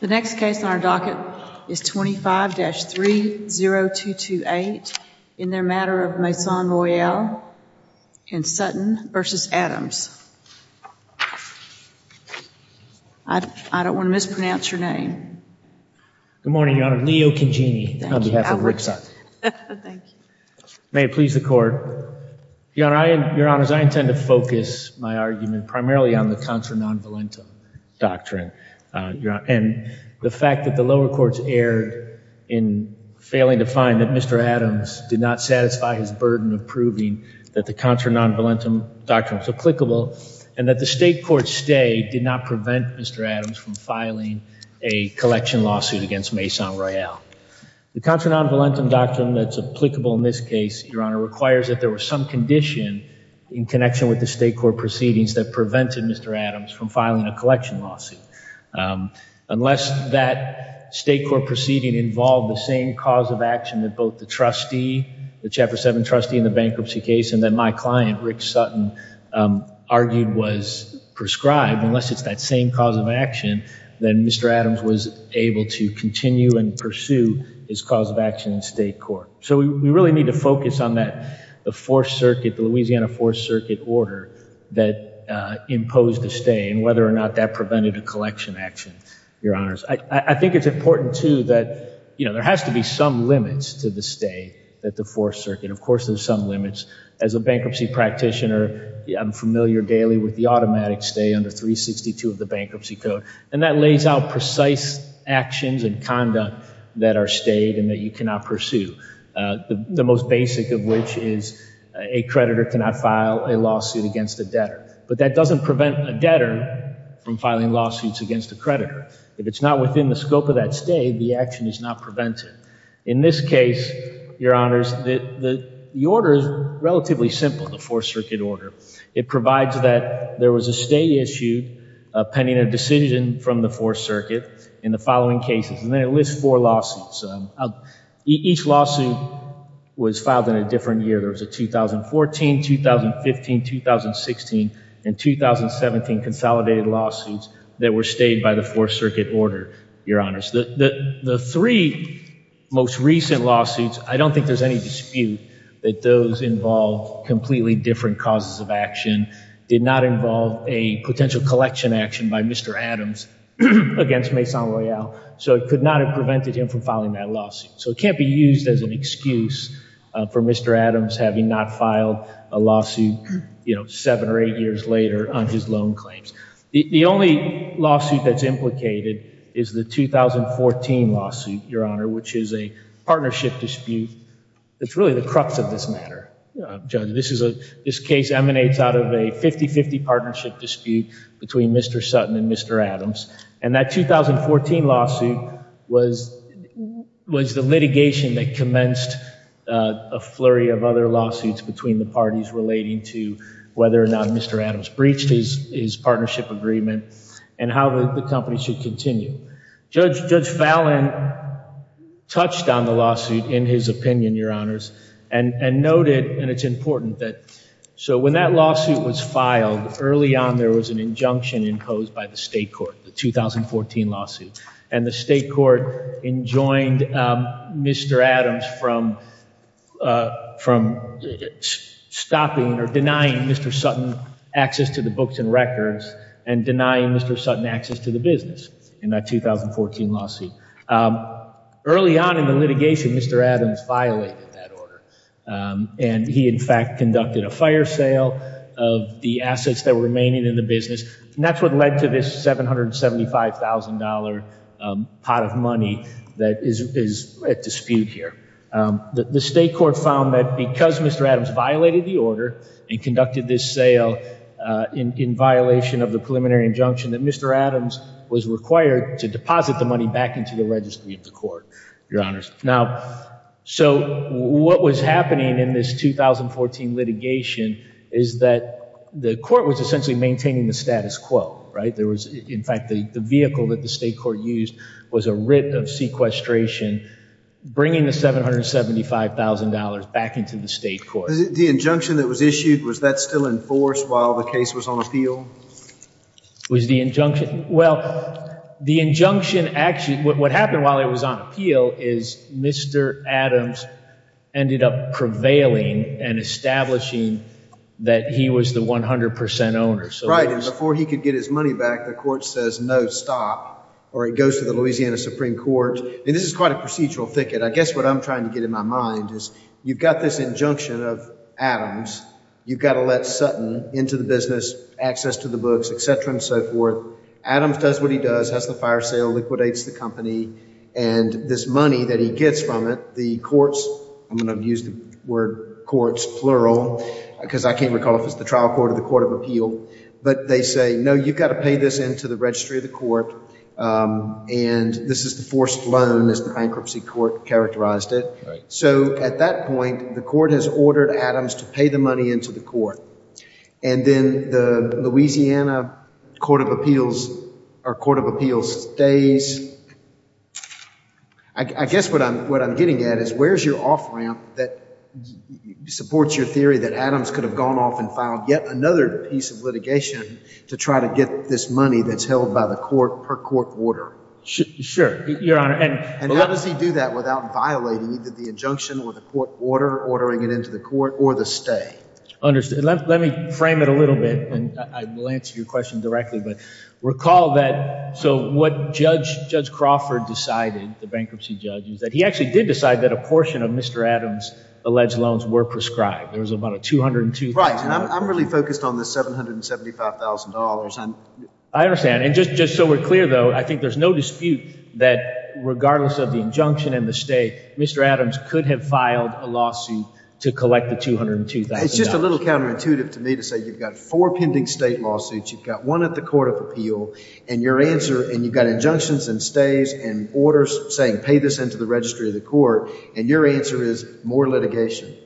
The next case on our docket is 25-30228 in their matter of Maison Royale and Sutton v. Adams. I don't want to mispronounce your name. Good morning, Your Honor. Leo Cangini on behalf of Rick Sutton. Thank you. May it please the Court. Your Honor, I intend to focus my argument primarily on the contra non-valentum doctrine. And the fact that the lower courts erred in failing to find that Mr. Adams did not satisfy his burden of proving that the contra non-valentum doctrine was applicable and that the state court stay did not prevent Mr. Adams from filing a collection lawsuit against Maison Royale. The contra non-valentum doctrine that's applicable in this case, Your Honor, requires that there was some condition in connection with the state court proceedings that prevented Mr. Adams from filing a collection lawsuit. Unless that state court proceeding involved the same cause of action that both the trustee, the F7 trustee in the bankruptcy case, and that my client, Rick Sutton, argued was prescribed, unless it's that same cause of action, then Mr. Adams was able to continue and pursue his cause of action in state court. So we really need to focus on that, the Fourth Circuit, the Louisiana Fourth Circuit order that imposed the stay and whether or not that prevented a collection action, Your Honors. I think it's important too that, you know, there has to be some limits to the stay at the Fourth Circuit. Of course, there's some limits. As a bankruptcy practitioner, I'm familiar daily with the automatic stay under 362 of the Bankruptcy Code, and that lays out precise actions and conduct that are stayed and that you cannot pursue, the most basic of which is a creditor cannot file a lawsuit against a debtor. But that doesn't prevent a debtor from filing lawsuits against a creditor. If it's not within the scope of that stay, the action is not prevented. In this case, Your Honors, the order is relatively simple, the Fourth Circuit order. It provides that there was a stay issued pending a decision from the Fourth Circuit in the following cases, and then it lists four lawsuits. Each lawsuit was filed in a different year. There was a 2014, 2015, 2016, and 2017 consolidated lawsuits that were stayed by the Fourth Circuit order, Your Honors. The three most recent lawsuits, I don't think there's any dispute that those involve completely different causes of action, did not involve a potential collection action by Mr. Adams against Maison Royale, so it could not have prevented him from filing that lawsuit. So it can't be used as an excuse for Mr. Adams having not filed a lawsuit, you know, seven or eight years later on his loan claims. The only lawsuit that's implicated is the 2014 lawsuit, Your Honor, which is a partnership dispute. It's really the crux of this matter, Judge. This case emanates out of a 50-50 partnership dispute between Mr. Sutton and Mr. Adams, and that 2014 lawsuit was the litigation that commenced a flurry of other lawsuits between the parties relating to whether or not Mr. Adams breached his partnership agreement and how the company should continue. Judge Fallon touched on the lawsuit in his opinion, Your Honors, and noted, and it's important that, so when that lawsuit was filed, early on there was an injunction imposed by the state court, the 2014 lawsuit, and the state court enjoined Mr. Adams from stopping or denying Mr. Sutton access to the books and records and denying Mr. Sutton access to the business in that 2014 lawsuit. Early on in the litigation, Mr. Adams violated that order, and he in fact conducted a fire sale of the assets that were remaining in the business. And that's what led to this $775,000 pot of money that is at dispute here. The state court found that because Mr. Adams violated the order and conducted this sale in violation of the preliminary injunction, that Mr. Adams was required to deposit the money back into the registry of the court, Your Honors. Now, so what was happening in this 2014 litigation is that the court was essentially maintaining the status quo, right? In fact, the vehicle that the state court used was a writ of sequestration bringing the $775,000 back into the state court. The injunction that was issued, was that still enforced while the case was on appeal? Was the injunction, well, the injunction actually, what happened while it was on appeal is Mr. Adams ended up prevailing and establishing that he was the 100% owner. Right. And before he could get his money back, the court says, no, stop. Or it goes to the Louisiana Supreme Court. And this is quite a procedural thicket. I guess what I'm trying to get in my mind is, you've got this injunction of Adams, you've got to let Sutton into the business, access to the books, et cetera, and so forth. Adams does what he does, has the fire sale, liquidates the company, and this money that he gets from it, the courts, I'm going to use the word courts, plural, because I can't recall if it's the trial court or the court of appeal, but they say, no, you've got to pay this into the registry of the court. And this is the forced loan as the bankruptcy court characterized it. So at that point, the court has ordered Adams to pay the money into the court. And then the Louisiana Court of Appeals stays. I guess what I'm getting at is, where's your off-ramp that supports your theory that Adams could have gone off and filed yet another piece of litigation to try to get this money that's held by the court per court order? Sure, Your Honor. And how does he do that without violating either the injunction or the court order, ordering it into the court, or the stay? Understood. Let me frame it a little bit, and I will answer your question directly. But recall that, so what Judge Crawford decided, the bankruptcy judge, is that he actually did decide that a portion of Mr. Adams' alleged loans were prescribed. There was about a $202,000. Right. And I'm really focused on the $775,000. I understand. And just so we're clear, though, I think there's no dispute that regardless of injunction and the stay, Mr. Adams could have filed a lawsuit to collect the $202,000. It's just a little counterintuitive to me to say you've got four pending state lawsuits. You've got one at the Court of Appeal. And you've got injunctions and stays and orders saying, pay this into the registry of the court. And your answer is, more litigation.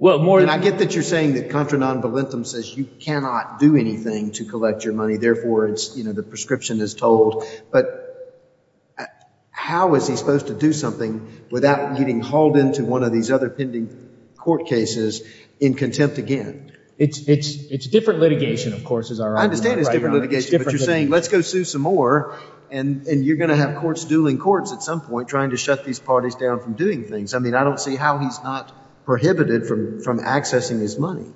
And I get that you're saying that contra non volentem says you cannot do anything to collect your money. Therefore, the prescription is told. But how is he supposed to do something without getting hauled into one of these other pending court cases in contempt again? It's different litigation, of course, is our argument. I understand it's different litigation. But you're saying, let's go sue some more. And you're going to have courts dueling courts at some point trying to shut these parties down from doing things. I mean, I don't see how he's not prohibited from accessing his money.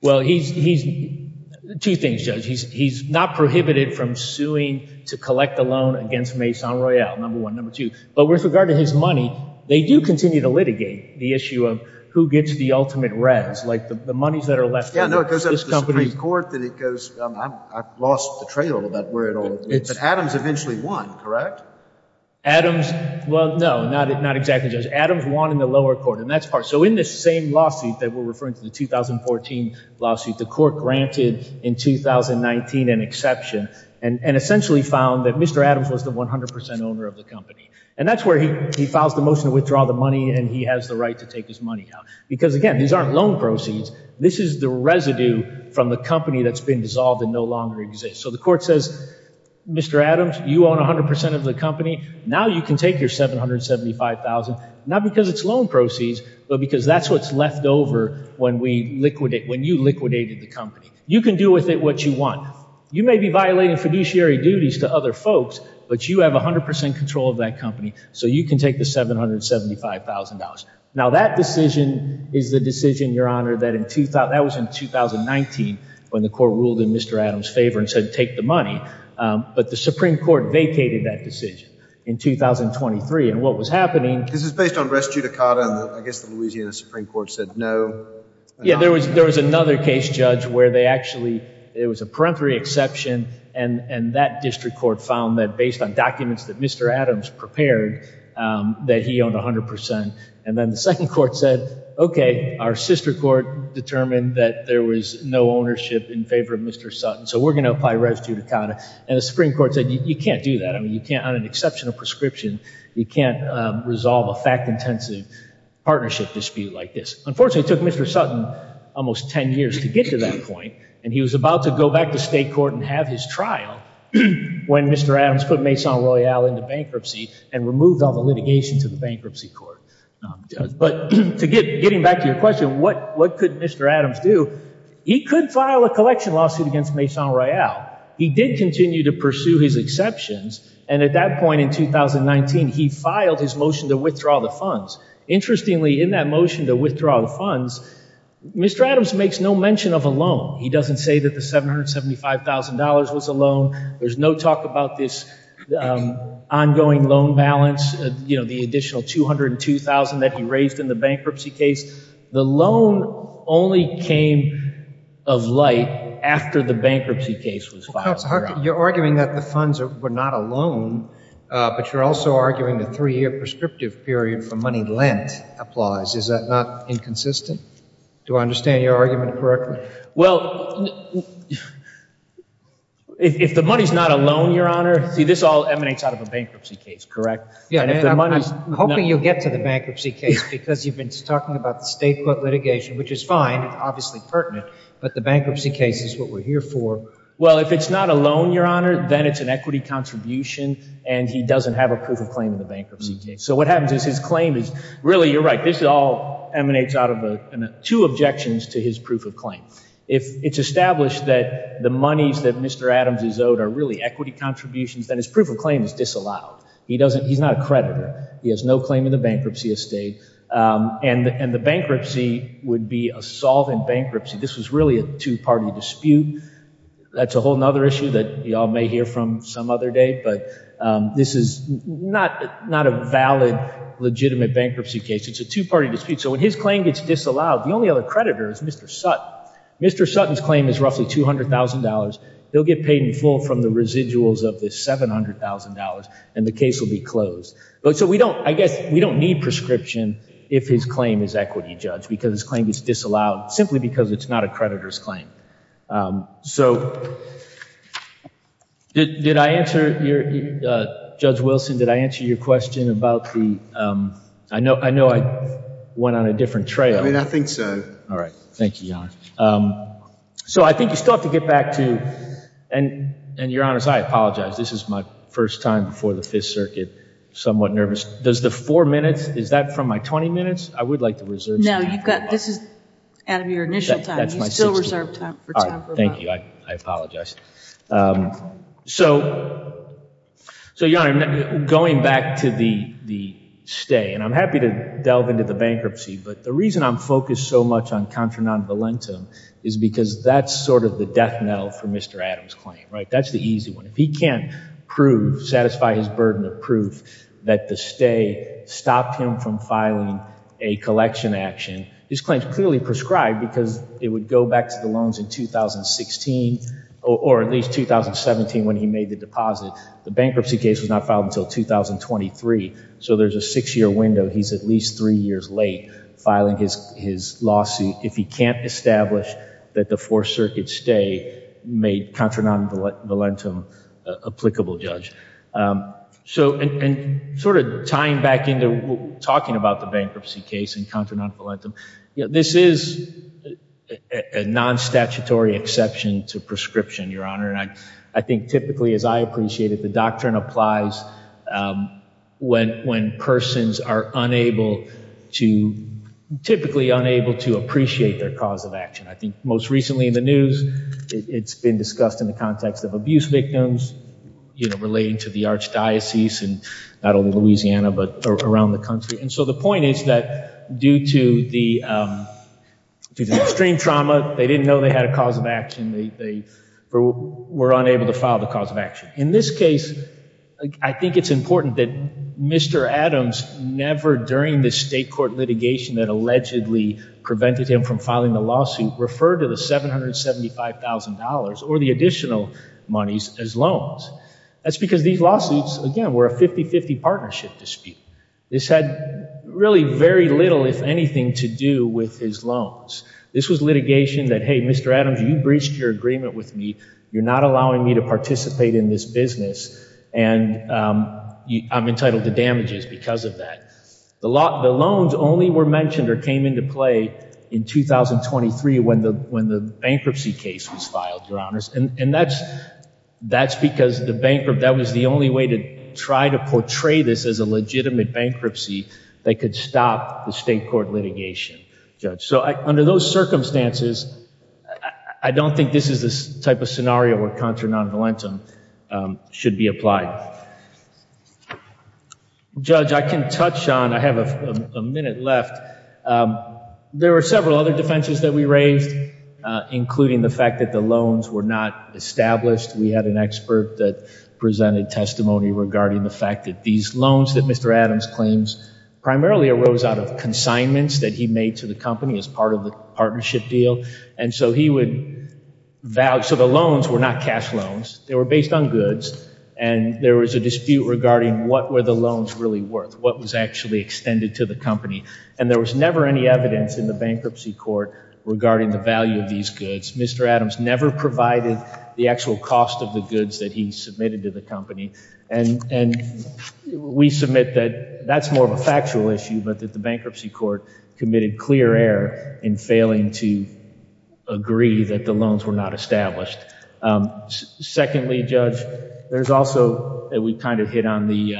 Well, two things, Judge. He's not prohibited from suing to collect a loan against Maison Royale, number one, number two. But with regard to his money, they do continue to litigate the issue of who gets the ultimate res, like the monies that are left. Yeah, no, it goes up to the Supreme Court that it goes, I've lost the trail of where it all is. But Adams eventually won, correct? Adams, well, no, not exactly, Judge. Adams won in the lower court. And that's part. So in this same lawsuit that we're referring to, the 2014 lawsuit, the court granted in 2019 an exception and essentially found that Mr. Adams was the 100% owner of the company. And that's where he files the motion to withdraw the money and he has the right to take his money out. Because again, these aren't loan proceeds. This is the residue from the company that's been dissolved and no longer exists. So the court says, Mr. Adams, you own 100% of the company. Now you can take your $775,000, not because it's loan proceeds, but because that's what's left over when you liquidated the company. You can do with it what you want. You may be violating fiduciary duties to other folks, but you have 100% control of that company. So you can take the $775,000. Now that decision is the decision, Your Honor, that was in 2019 when the court ruled in Mr. Adams' favor and said, take the money. But the Supreme Court vacated that decision in 2023. And what was happening... This is based on res judicata and I guess the Louisiana Supreme Court said no. Yeah. There was another case, Judge, where they actually, it was a peremptory exception. And that district court found that based on documents that Mr. Adams prepared, that he owned 100%. And then the second court said, okay, our sister court determined that there was no ownership in favor of Mr. Sutton. So we're going to apply res judicata. And the Supreme Court said, you can't do that. I mean, you can't, on an exceptional prescription, you can't resolve a fact-intensive partnership dispute like this. Unfortunately, it took Mr. Sutton almost 10 years to get to that point. And he was about to go back to state court and have his trial when Mr. Adams put Maison Royale into bankruptcy and removed all the litigation to the district court. And what did Mr. Adams do? He could file a collection lawsuit against Maison Royale. He did continue to pursue his exceptions. And at that point in 2019, he filed his motion to withdraw the funds. Interestingly, in that motion to withdraw the funds, Mr. Adams makes no mention of a loan. He doesn't say that the $775,000 was a loan. There's no talk about this ongoing loan balance, the additional $202,000 that he raised in the bankruptcy case. The loan only came of light after the bankruptcy case was filed. You're arguing that the funds were not a loan, but you're also arguing the three-year prescriptive period for money lent applies. Is that not inconsistent? Do I understand your argument correctly? Well, if the money's not a loan, Your Honor, see this all emanates out of a bankruptcy case, correct? Yeah, I'm hoping you'll get to the bankruptcy case because you've been talking about the state court litigation, which is fine, obviously pertinent, but the bankruptcy case is what we're here for. Well, if it's not a loan, Your Honor, then it's an equity contribution and he doesn't have a proof of claim in the bankruptcy case. So what happens is his claim is really, you're right, it all emanates out of two objections to his proof of claim. If it's established that the monies that Mr. Adams is owed are really equity contributions, then his proof of claim is disallowed. He's not a creditor. He has no claim in the bankruptcy estate and the bankruptcy would be a solvent bankruptcy. This was really a two-party dispute. That's a whole other issue that you all may hear from some other day, but this is not a valid, legitimate bankruptcy case. It's a two-party dispute. So when his claim gets disallowed, the only other creditor is Mr. Sutton. Mr. Sutton's claim is roughly $200,000. They'll get paid in full from the residuals of this $700,000 and the case will be closed. So I guess we don't need prescription if his claim is equity judged because his claim gets disallowed simply because it's not a creditor's claim. So did I answer your, Judge Wilson, did I answer your question about the, I know I went on a different trail. I mean, I think so. All right. Thank you, Your Honor. So I think you still have to get back to, and Your Honor, I apologize. This is my first time before the Fifth Circuit, somewhat nervous. Does the four minutes, is that from my 20 minutes? I would like to reserve. No, you've got, this is out of your initial time. You still reserve time. All right. Thank you. I apologize. So, so Your Honor, going back to the, the stay, and I'm happy to delve into the bankruptcy, but the reason I'm focused so much on contra non-valentum is because that's sort of the death knell for Mr. Adams' claim, right? That's the easy one. If he can't prove, satisfy his burden of proof that the stay stopped him from filing a collection action, his claim is clearly prescribed because it would go back to the loans in 2016 or at least 2017 when he made the deposit. The bankruptcy case was not filed until 2023. So there's a six-year window. He's at least three years late filing his, his lawsuit. If he can't establish that the Fourth Circuit stay made contra non-valentum applicable, Judge. So, and, and sort of tying back talking about the bankruptcy case and contra non-valentum, this is a non-statutory exception to prescription, Your Honor. And I, I think typically, as I appreciate it, the doctrine applies when, when persons are unable to, typically unable to appreciate their cause of action. I think most recently in the news, it's been discussed in the context of abuse victims, you know, relating to the archdiocese and not only Louisiana, but around the country. And so the point is that due to the, to the extreme trauma, they didn't know they had a cause of action. They, they were unable to file the cause of action. In this case, I think it's important that Mr. Adams never during the state court litigation that allegedly prevented him from the lawsuit referred to the $775,000 or the additional monies as loans. That's because these lawsuits, again, were a 50-50 partnership dispute. This had really very little, if anything, to do with his loans. This was litigation that, hey, Mr. Adams, you breached your agreement with me. You're not allowing me to participate in this business. And I'm entitled to damages because of that. The lot, the loans only were mentioned or came into play in 2023 when the, when the bankruptcy case was filed, Your Honors. And that's, that's because the bankrupt, that was the only way to try to portray this as a legitimate bankruptcy that could stop the state court litigation, Judge. So under those circumstances, I don't think this is the type of scenario where contra non-valentam should be applied. Judge, I can touch on, I have a minute left. There were several other defenses that we raised, including the fact that the loans were not established. We had an expert that presented testimony regarding the fact that these loans that Mr. Adams claims primarily arose out of consignments that he made to the company as part of the partnership deal. And so he would, so the loans were not cash loans. They were based on goods. And there was a dispute regarding what were the loans really worth, what was actually extended to the company. And there was never any evidence in the bankruptcy court regarding the value of these goods. Mr. Adams never provided the actual cost of the goods that he submitted to the company. And, and we submit that that's more of a factual issue, but that the bankruptcy court committed clear error in failing to agree that the loans were not established. Secondly, Judge, there's also that we kind of hit on the,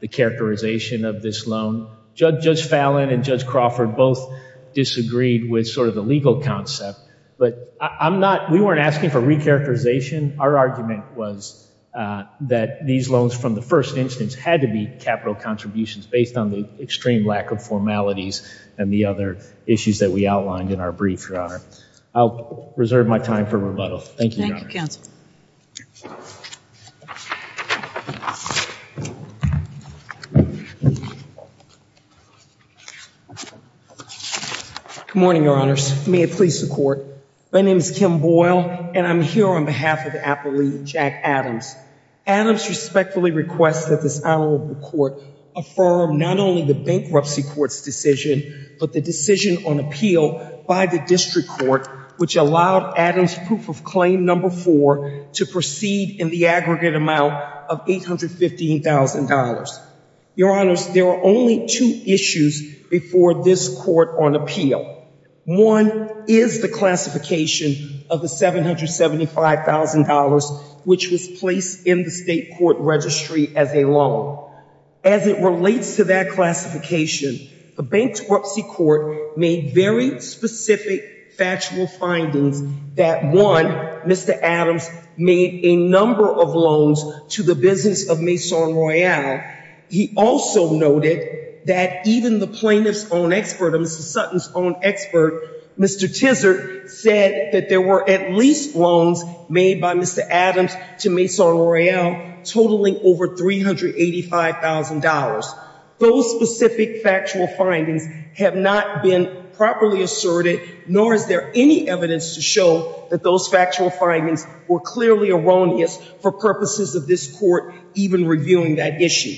the characterization of this loan. Judge Fallon and Judge Crawford both disagreed with sort of the legal concept, but I'm not, we weren't asking for recharacterization. Our argument was that these loans from the first instance had to be capital contributions based on the extreme lack of formalities and the other issues that we outlined in our brief, Your Honor. I'll reserve my time for rebuttal. Thank you, Your Honor. Good morning, Your Honors. May it please the court. My name is Kim Boyle and I'm here on behalf of the appellee, Jack Adams. Adams respectfully requests that this honorable court affirm not only the bankruptcy court's decision, but the decision on appeal by the district court, which allowed Adams' proof of claim number four to proceed in the aggregate amount of $815,000. Your Honors, there are only two issues before this court on appeal. One is the classification of the $775,000, which was placed in the state court registry as a loan. As it relates to that classification, the bankruptcy court made very specific factual findings that one, Mr. Adams made a number of loans to the business of Maison Royale. He also noted that even the plaintiff's own expert, Mr. Sutton's own expert, Mr. Tizard, said that there were at least loans made by Mr. $775,000. Those specific factual findings have not been properly asserted, nor is there any evidence to show that those factual findings were clearly erroneous for purposes of this court even reviewing that issue.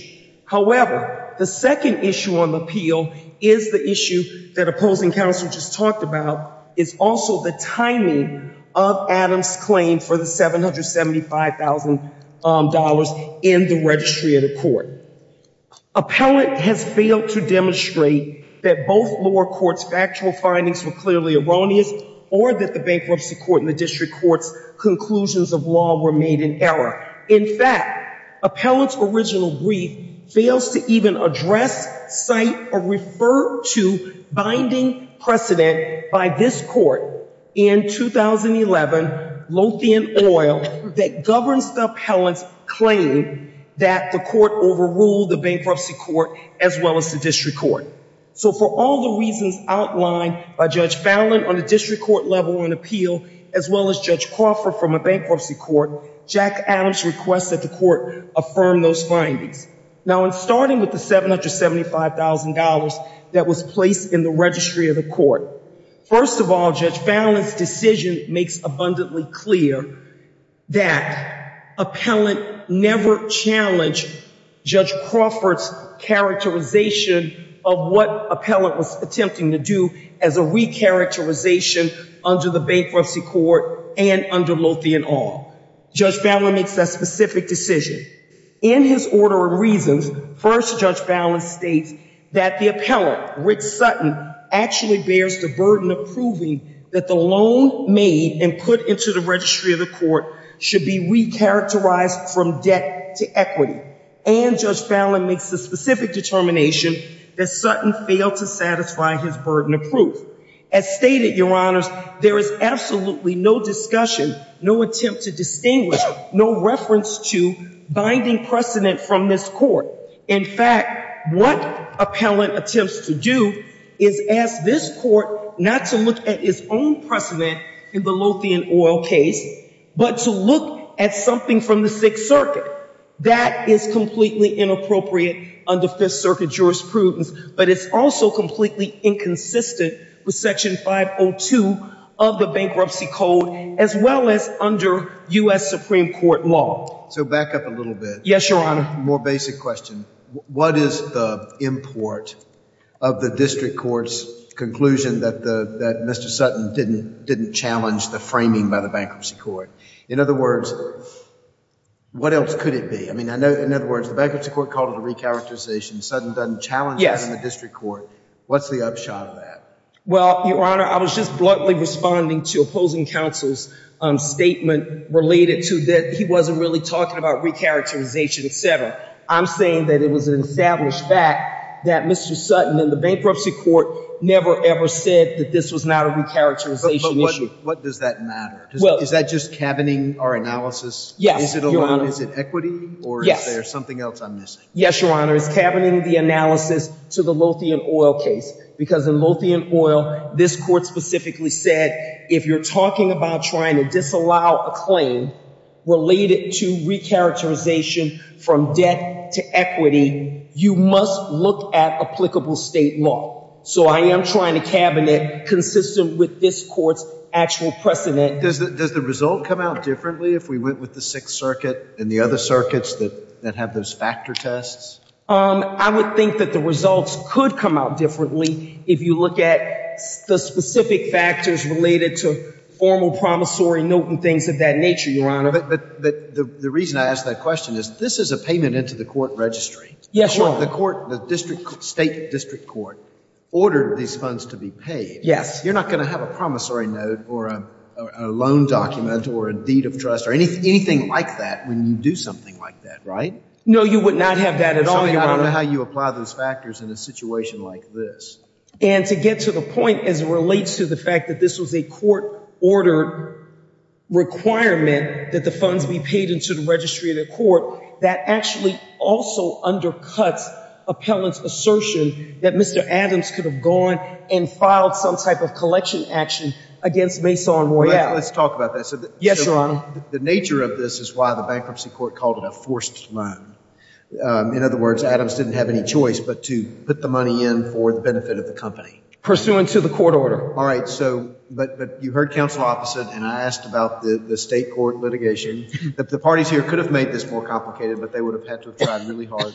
However, the second issue on appeal is the issue that opposing counsel just talked about is also the timing of Adams' claim for the $775,000 in the registry of the court. Appellant has failed to demonstrate that both lower courts' factual findings were clearly erroneous or that the bankruptcy court and the district court's conclusions of law were made in error. In fact, appellant's original brief fails to even address, cite, or refer to binding precedent by this court in 2011, Lothian Oil, that governs the appellant's claim that the court overruled the bankruptcy court as well as the district court. So for all the reasons outlined by Judge Fallon on the district court level on appeal, as well as Judge Crawford from a bankruptcy court, Jack Adams requests that the court affirm those findings. Now, in starting with the $775,000 that was placed in the registry of the court, first of all, Judge Fallon's decision makes abundantly clear that appellant never challenged Judge Crawford's characterization of what appellant was attempting to do as a re-characterization under the bankruptcy court and under Lothian Oil. Judge Fallon makes that specific decision. In his order of reasons, first, Judge Fallon states that the appellant, Rick Sutton, actually bears the burden of proving that the loan made and put into the registry of the court should be re-characterized from debt to equity. And Judge Fallon makes the specific determination that Sutton failed to satisfy his burden of proof. As stated, your honors, there is absolutely no discussion, no attempt to distinguish, no reference to binding precedent from this court. In fact, what appellant attempts to do is ask this court not to look at its own precedent in the Lothian Oil case, but to look at something from the Sixth Circuit. That is completely inappropriate under Fifth Circuit jurisprudence, but it's also completely inconsistent with Section 502 of the bankruptcy code, as well as under US Supreme Court law. So back up a little bit. Yes, your honor. More basic question. What is the import of the district court's conclusion that Mr. Sutton didn't challenge the framing by the bankruptcy court? In other words, what else could it be? I mean, I know, in other words, the bankruptcy court called it a re-characterization. Sutton doesn't challenge it in the district court. What's the upshot of that? Well, your honor, I was just bluntly responding to opposing counsel's statement related to that he wasn't really talking about re-characterization, etc. I'm saying that it was an established fact that Mr. Sutton and the bankruptcy court never, ever said that this was not a re-characterization issue. But what does that matter? Is that just cabining our analysis? Yes, your honor. Is it equity, or is there something else I'm missing? Yes, your honor. It's cabining the analysis to the Lothian Oil case, because in Lothian Oil, this court specifically said, if you're talking about trying to disallow a claim related to re-characterization from debt to equity, you must look at applicable state law. So I am trying to cabinet consistent with this court's actual precedent. Does the result come out differently if we went with the Sixth Circuit and the other circuits that have those factor tests? I would think that the results could come out differently if you look at the specific factors related to formal promissory note and things of that nature, your honor. But the reason I ask that question is, this is a payment into the court registry. Yes, your honor. The court, the state district court, ordered these funds to be paid. Yes. You're not going to have a promissory note or a loan document or a deed of trust or anything like that when you do something like that, right? No, you would not have that at all, your honor. I don't know how you apply those factors in a situation like this. And to get to the point, as it relates to the fact that this was a court-ordered requirement that the funds be paid into the registry of the court, that actually also undercuts appellant's assertion that Mr. Adams could have gone and filed some type of collection action against Maison Royale. Let's talk about that. Yes, your honor. The nature of this is the bankruptcy court called it a forced loan. In other words, Adams didn't have any choice but to put the money in for the benefit of the company. Pursuant to the court order. All right, so, but you heard counsel opposite, and I asked about the state court litigation, that the parties here could have made this more complicated, but they would have had to have tried really hard.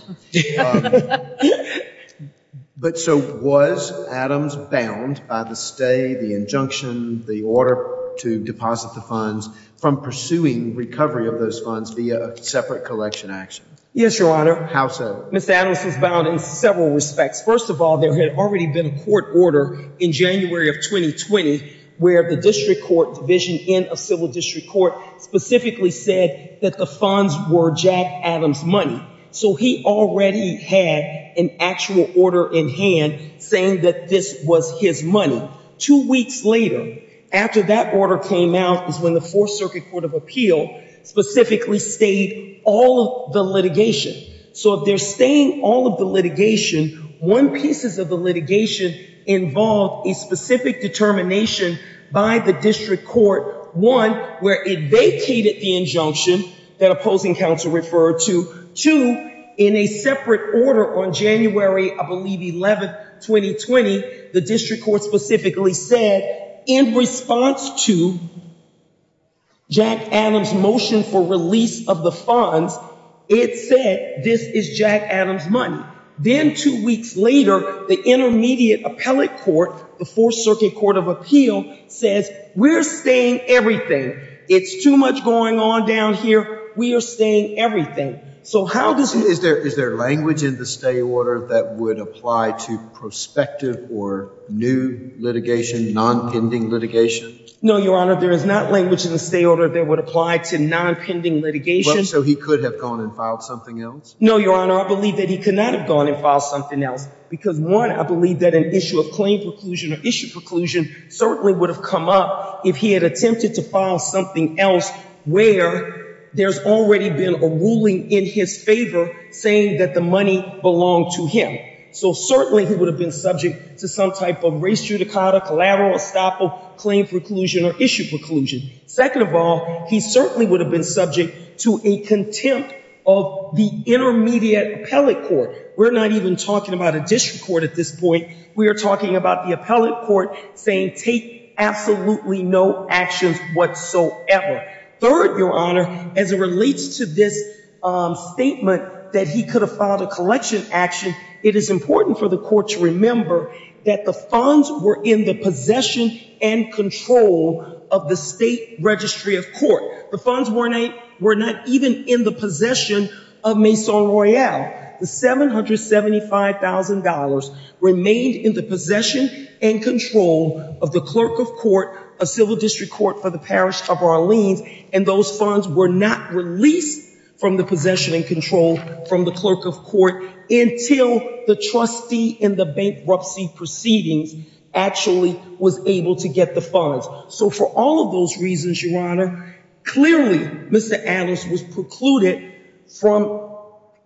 But so was Adams bound by the stay, the injunction, the order to deposit the funds from pursuing recovery of those funds via separate collection action. Yes, your honor. How so? Ms. Adams was bound in several respects. First of all, there had already been a court order in January of 2020, where the district court division in a civil district court specifically said that the funds were Jack Adams money. So he already had an actual order in hand saying that this was his money. Two weeks later, after that order came out is when the fourth circuit court of appeal specifically stayed all of the litigation. So if they're staying all of the litigation, one pieces of the litigation involved a specific determination by the district court, one, where it vacated the injunction that opposing counsel referred to two in a separate order on January, I believe, 11th, 2020, the district court specifically said in response to Jack Adams motion for release of the funds, it said, this is Jack Adams money. Then two weeks later, the intermediate appellate court, the fourth circuit court of appeal says we're staying everything. It's too much going on down here. We are staying everything. So how does... Is there language in the stay order that would apply to prospective or new litigation, non-pending litigation? No, your honor. There is not language in the stay order that would apply to non-pending litigation. So he could have gone and filed something else? No, your honor. I believe that he could not have gone and filed something else because one, I believe that an issue of claim preclusion or issue preclusion certainly would have come up if he had attempted to file something else where there's already been a ruling in his favor saying that the money belonged to him. So certainly he would have been subject to some type of race judicata, collateral estoppel, claim preclusion, or issue preclusion. Second of all, he certainly would have been subject to a contempt of the intermediate appellate court. We're not even talking about a district court at this point. We are talking about the appellate court saying take absolutely no actions whatsoever. Third, your honor, as it relates to this statement that he could have filed a collection action, it is important for the court to remember that the funds were in the possession and control of the state registry of court. The funds were not even in the possession of Maison Royale. The $775,000 remained in the possession and control of the clerk of court, a civil district court for the parish of Orleans, and those funds were not released from the possession and control from the clerk of court until the trustee in the bankruptcy proceedings actually was able to get the funds. So for all of those reasons, your honor, clearly Mr. Adams was precluded from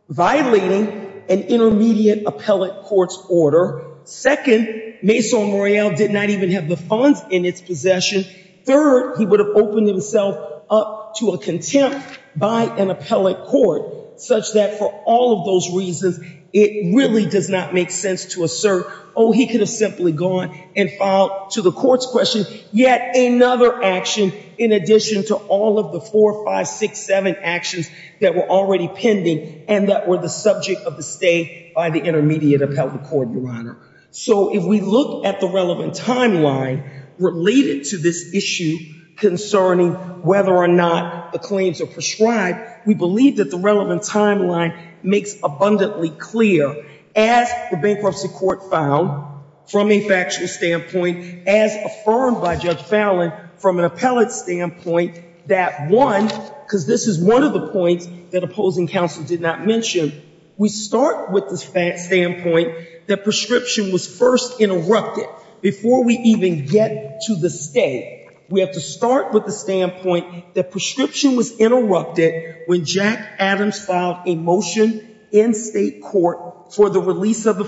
violating an intermediate appellate court's order. Second, Maison Royale did not even have the funds in its possession. Third, he would have opened himself up to a contempt by an appellate court such that for all of those reasons, it really does not make sense to assert, oh he could have simply gone and filed to the court's question. Yet another action in addition to all of the four, six, seven actions that were already pending and that were the subject of the stay by the intermediate appellate court, your honor. So if we look at the relevant timeline related to this issue concerning whether or not the claims are prescribed, we believe that the relevant timeline makes abundantly clear as the bankruptcy court found from a factual standpoint as affirmed by Judge Fallon from an appellate standpoint that one, because this is one of the points that opposing counsel did not mention, we start with the standpoint that prescription was first interrupted before we even get to the stay. We have to start with the standpoint that prescription was interrupted when Jack Adams filed a motion in state court for the release of the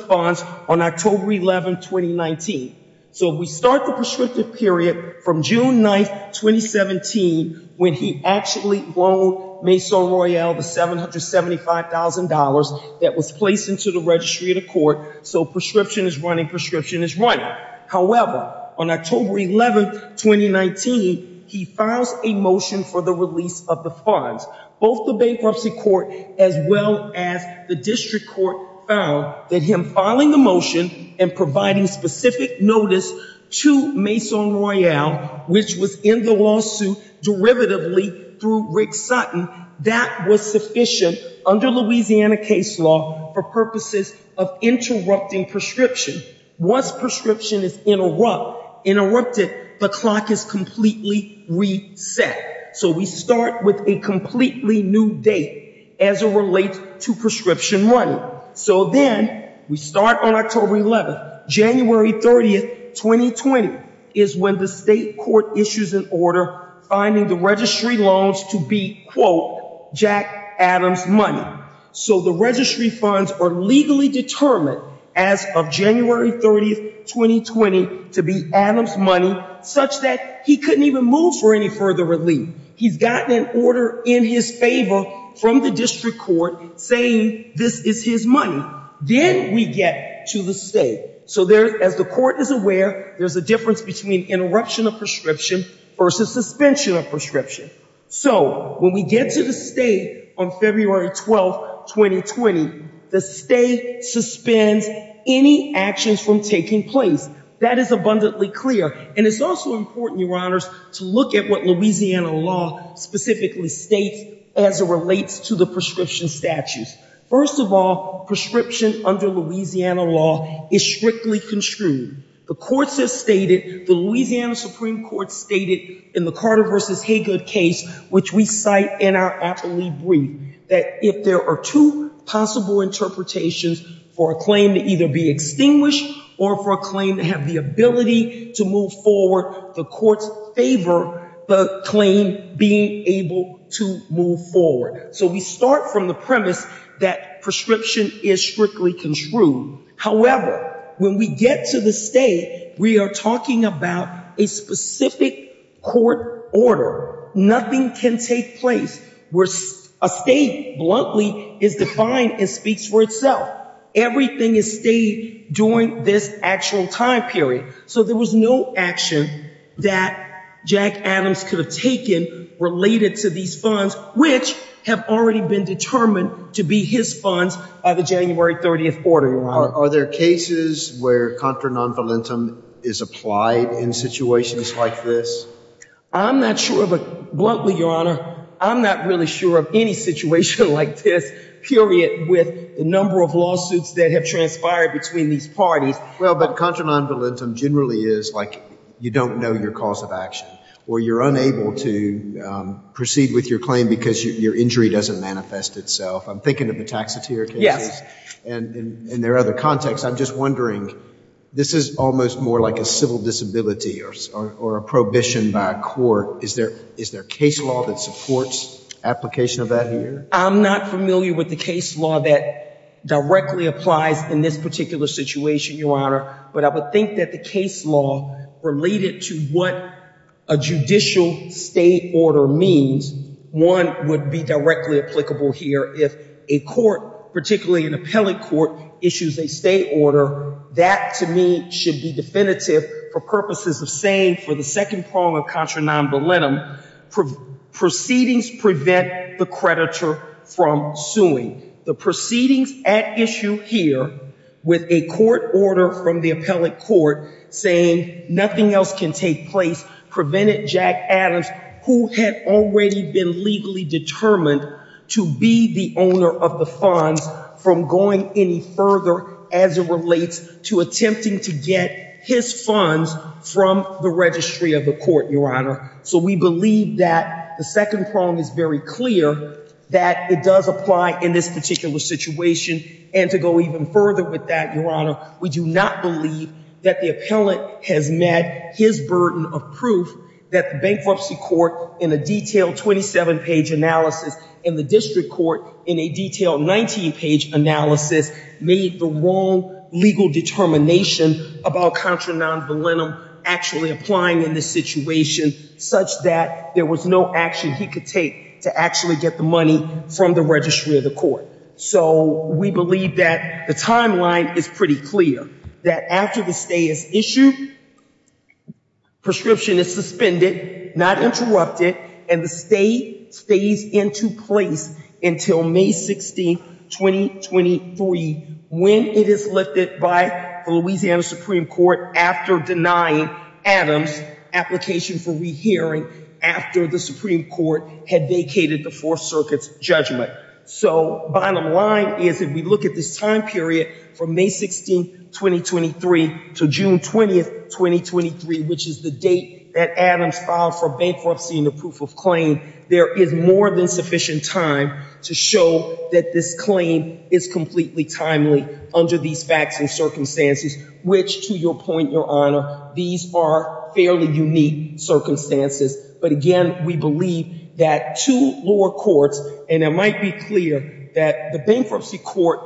on October 11, 2019. So we start the prescriptive period from June 9, 2017 when he actually loaned Maison Royale the $775,000 that was placed into the registry of the court. So prescription is running, prescription is running. However, on October 11, 2019, he files a motion for the release of the funds. Both the bankruptcy court as well as the district court found that him filing the motion and providing specific notice to Maison Royale, which was in the lawsuit derivatively through Rick Sutton, that was sufficient under Louisiana case law for purposes of interrupting prescription. Once prescription is interrupted, the clock is completely reset. So we start with a completely new date as it relates to prescription money. So then we start on October 11, January 30, 2020 is when the state court issues an order finding the registry loans to be, quote, Jack Adams money. So the registry funds are legally determined as of January 30, 2020 to be Adams money such that he couldn't even move for any further relief. He's gotten an order in his favor from the district court saying this is his money. Then we get to the state. So as the court is aware, there's a difference between interruption of prescription versus suspension of prescription. So when we get to the state on February 12, 2020, the state suspends any actions from taking place. That is abundantly clear. And it's also important, Your Honors, to look at what Louisiana law specifically states as it relates to the prescription statutes. First of all, prescription under Louisiana law is strictly construed. The courts have stated, the Louisiana Supreme Court stated in the Carter versus Haygood case, which we cite in our aptly brief, that if there are two possible interpretations for a claim to either be extinguished or for a claim to have the ability to move forward, the courts favor the claim being able to move forward. So we start from the premise that prescription is strictly construed. However, when we get to the state, we are talking about a specific court order, nothing can take place where a state bluntly is defined and speaks for itself. Everything is stated during this actual time period. So there was no action that Jack Adams could have taken related to these funds, which have already been determined to be his funds by the January 30th order, Your Honor. Are there cases where contra non voluntum is applied in situations like this? I'm not sure, but bluntly, Your Honor, I'm not really sure of any situation like this, period, with the number of lawsuits that have transpired between these parties. Well, but contra non voluntum generally is like, you don't know your cause of action, or you're unable to proceed with your claim because your injury doesn't manifest itself. I'm thinking of the taxatier cases and their other contexts. I'm just wondering, this is almost more like a civil disability or a prohibition by a court. Is there case law that supports application of that here? I'm not familiar with the case law that directly applies in this particular situation, Your Honor, but I would think that the case law related to what a judicial state order means, one would be directly applicable here if a court, particularly an appellate court, issues a state order. That, to me, should be definitive for purposes of saying for the second prong of contra non voluntum, proceedings prevent the creditor from suing. The proceedings at issue here with a court order from the appellate court saying nothing else can take place prevented Jack Adams, who had already been legally determined to be the owner of the funds, from going any further as it relates to attempting to get his funds from the registry of the court, Your Honor. So we believe that the second prong is very clear that it does apply in this particular situation. And to go even further with that, Your Honor, we do not believe that the appellate has met his burden of proof that the bankruptcy court in a detailed 27-page analysis and the district court in a detailed 19-page analysis made the wrong legal determination about contra non voluntum actually applying in this situation such that there was no action he could take to actually get the money from the registry of the court. So we believe that the timeline is pretty clear, that after the stay is issued, the prescription is suspended, not interrupted, and the stay stays into place until May 16, 2023, when it is lifted by the Louisiana Supreme Court after denying Adams application for rehearing after the Supreme Court had vacated the Fourth Circuit's judgment. So bottom line is if look at this time period from May 16, 2023 to June 20, 2023, which is the date that Adams filed for bankruptcy and the proof of claim, there is more than sufficient time to show that this claim is completely timely under these facts and circumstances, which to your point, Your Honor, these are fairly unique circumstances. But again, we believe that two lower courts, and it might be clear that the bankruptcy court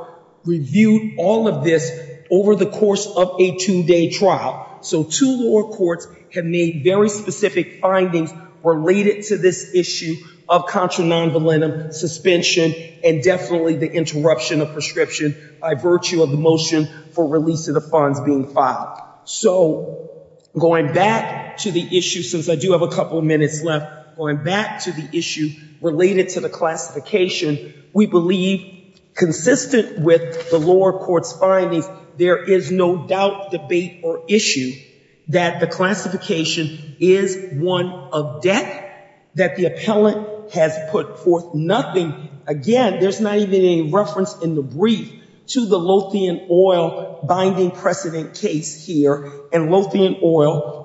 reviewed all of this over the course of a two-day trial. So two lower courts have made very specific findings related to this issue of contra non voluntum suspension and definitely the interruption of prescription by virtue of the motion for release of the funds being filed. So going back to the issue, since I do have a couple of minutes left, going back to the issue related to the classification, we believe consistent with the lower court's findings, there is no doubt, debate, or issue that the classification is one of debt that the appellant has put forth nothing. Again, there's not even a reference in the brief to the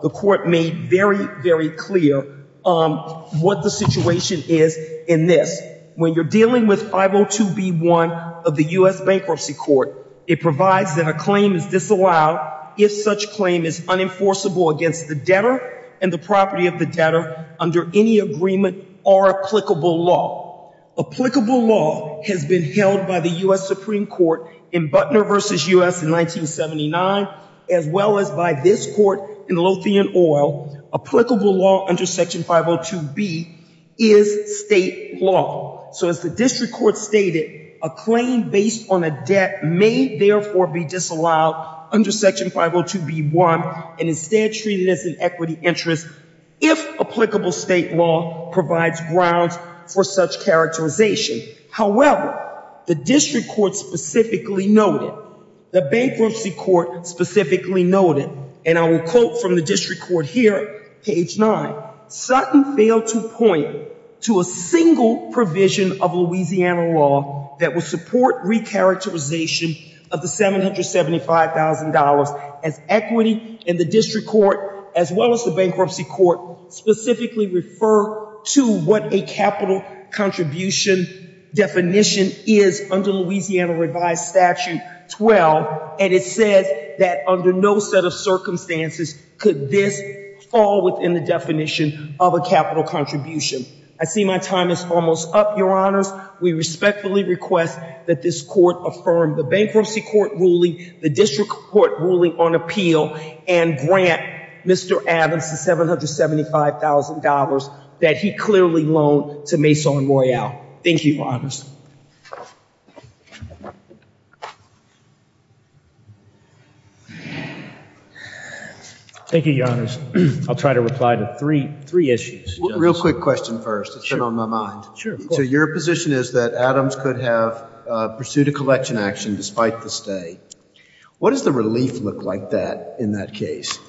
the court made very, very clear what the situation is in this. When you're dealing with 502B1 of the U.S. bankruptcy court, it provides that a claim is disallowed if such claim is unenforceable against the debtor and the property of the debtor under any agreement or applicable law. Applicable law has been held by the U.S. Supreme Court in Butner v. U.S. in 1979 as well as by this court in Lothian oil. Applicable law under section 502B is state law. So as the district court stated, a claim based on a debt may therefore be disallowed under section 502B1 and instead treated as an equity interest if applicable state law provides grounds for such characterization. However, the district court specifically noted, the bankruptcy court specifically noted, and I will quote from the district court here, page nine, Sutton failed to point to a single provision of Louisiana law that would support re-characterization of the $775,000 as equity in the district court as well as the bankruptcy court specifically refer to what a capital contribution definition is under Louisiana revised statute 12, and it says that under no set of circumstances could this fall within the definition of a capital contribution. I see my time is almost up, your honors. We respectfully request that this court affirm the bankruptcy court ruling, the district court ruling on appeal, and grant Mr. Adams the $775,000 that he clearly loaned to Mason Royale. Thank you, your honors. Thank you, your honors. I'll try to reply to three issues. Real quick question first. It's been on my mind. So your position is that Adams could have pursued a collection action despite the stay. What does the relief look like in that case?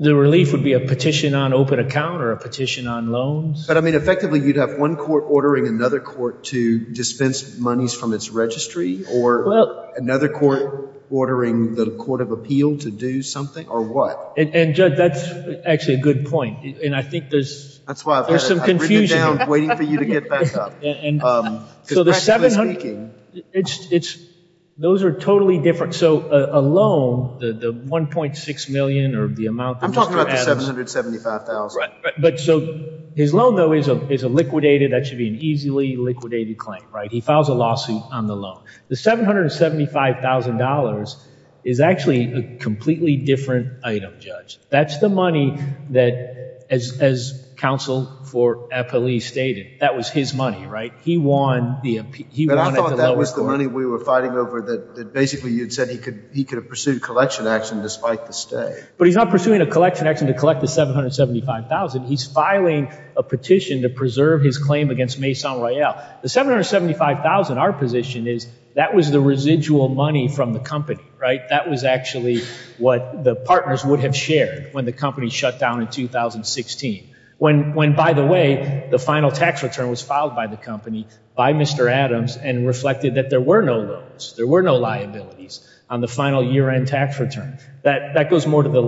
The relief would be a petition on open account or a petition on loans. But I mean effectively you'd have one court ordering another court to dispense monies from its registry or another court ordering the court of appeal to do something or what? And judge, that's actually a good point, and I think there's some confusion. That's why I've written it down waiting for you to get back I'm talking about the $775,000. But so his loan though is a liquidated, that should be an easily liquidated claim, right? He files a lawsuit on the loan. The $775,000 is actually a completely different item, judge. That's the money that as counsel for FLE stated, that was his money, right? He won at the lower court. But I thought that was the money we were fighting over that basically you'd said he could have pursued collection action despite the stay. But he's not pursuing a collection action to collect the $775,000. He's filing a petition to preserve his claim against Maison Royale. The $775,000, our position is that was the residual money from the company, right? That was actually what the partners would have shared when the company shut down in 2016. When by the way, the final tax return was filed by the company by Mr. Adams and reflected that there were no loans, there were no liabilities on the final year end tax return. That goes more to the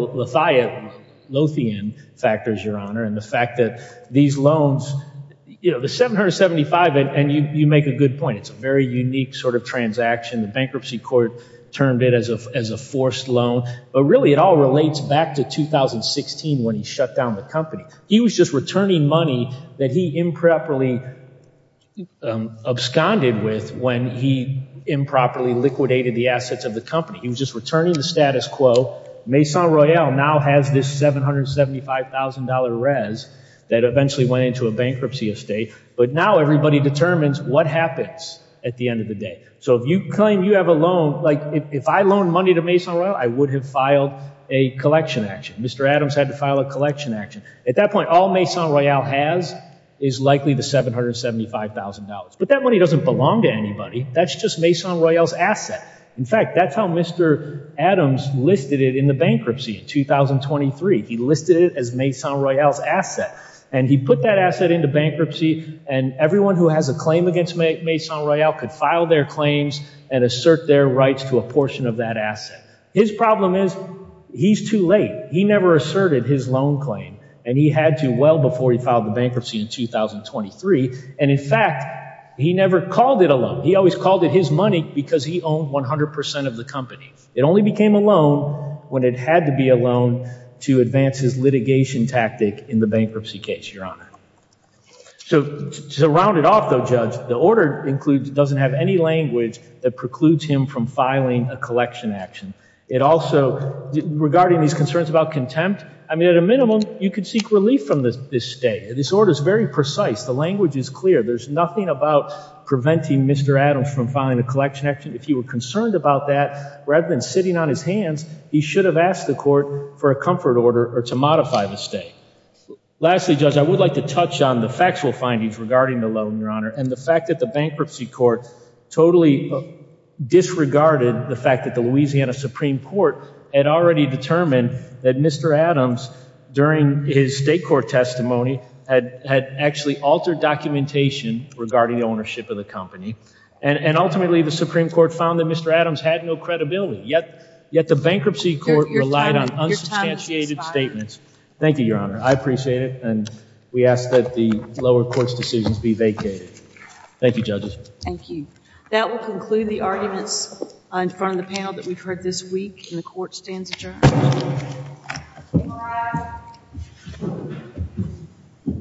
Lothian factors, your honor. And the fact that these loans, the $775,000, and you make a good point. It's a very unique sort of transaction. The bankruptcy court termed it as a forced loan, but really it all relates back to 2016 when he shut down the company. He was just returning money that he improperly absconded with when he improperly liquidated the assets of the company. He was just returning the status quo. Maison Royale now has this $775,000 res that eventually went into a bankruptcy estate. But now everybody determines what happens at the end of the day. So if you claim you have a loan, like if I loaned money to Maison Royale, I would have filed a collection action. Mr. Adams had to file a collection action. At that point, all Maison Royale has is likely the $775,000. But that money doesn't belong to anybody. That's just Maison Royale's asset. In fact, that's how Mr. Adams listed it in the bankruptcy in 2023. He listed it as Maison Royale's asset. And he put that asset into bankruptcy and everyone who has a claim against Maison Royale could file their claims and assert their rights to a portion of that asset. His problem is he's too late. He never asserted his loan claim. And he had to well before he filed the bankruptcy in 2023. And in fact, he never called it a loan. He always called it his money because he owned 100% of the company. It only became a loan when it had to be a loan to advance his litigation tactic in the bankruptcy case, Your Honor. So to round it off, though, the order includes it doesn't have any language that precludes him from filing a collection action. It also, regarding these concerns about contempt, I mean, at a minimum, you could seek relief from this stay. This order is very precise. The language is clear. There's nothing about preventing Mr. Adams from filing a collection action. If he were concerned about that, rather than sitting on his hands, he should have asked the court for a comfort order or to modify the stay. Lastly, Judge, I would like to touch on the factual findings regarding the loan, and the fact that the bankruptcy court totally disregarded the fact that the Louisiana Supreme Court had already determined that Mr. Adams, during his state court testimony, had actually altered documentation regarding the ownership of the company. And ultimately, the Supreme Court found that Mr. Adams had no credibility. Yet the bankruptcy court relied on unsubstantiated statements. Thank you, Your Honor. I appreciate it, and we ask that the lower court's decisions be vacated. Thank you, judges. Thank you. That will conclude the arguments in front of the panel that we've heard this week, and the court stands adjourned.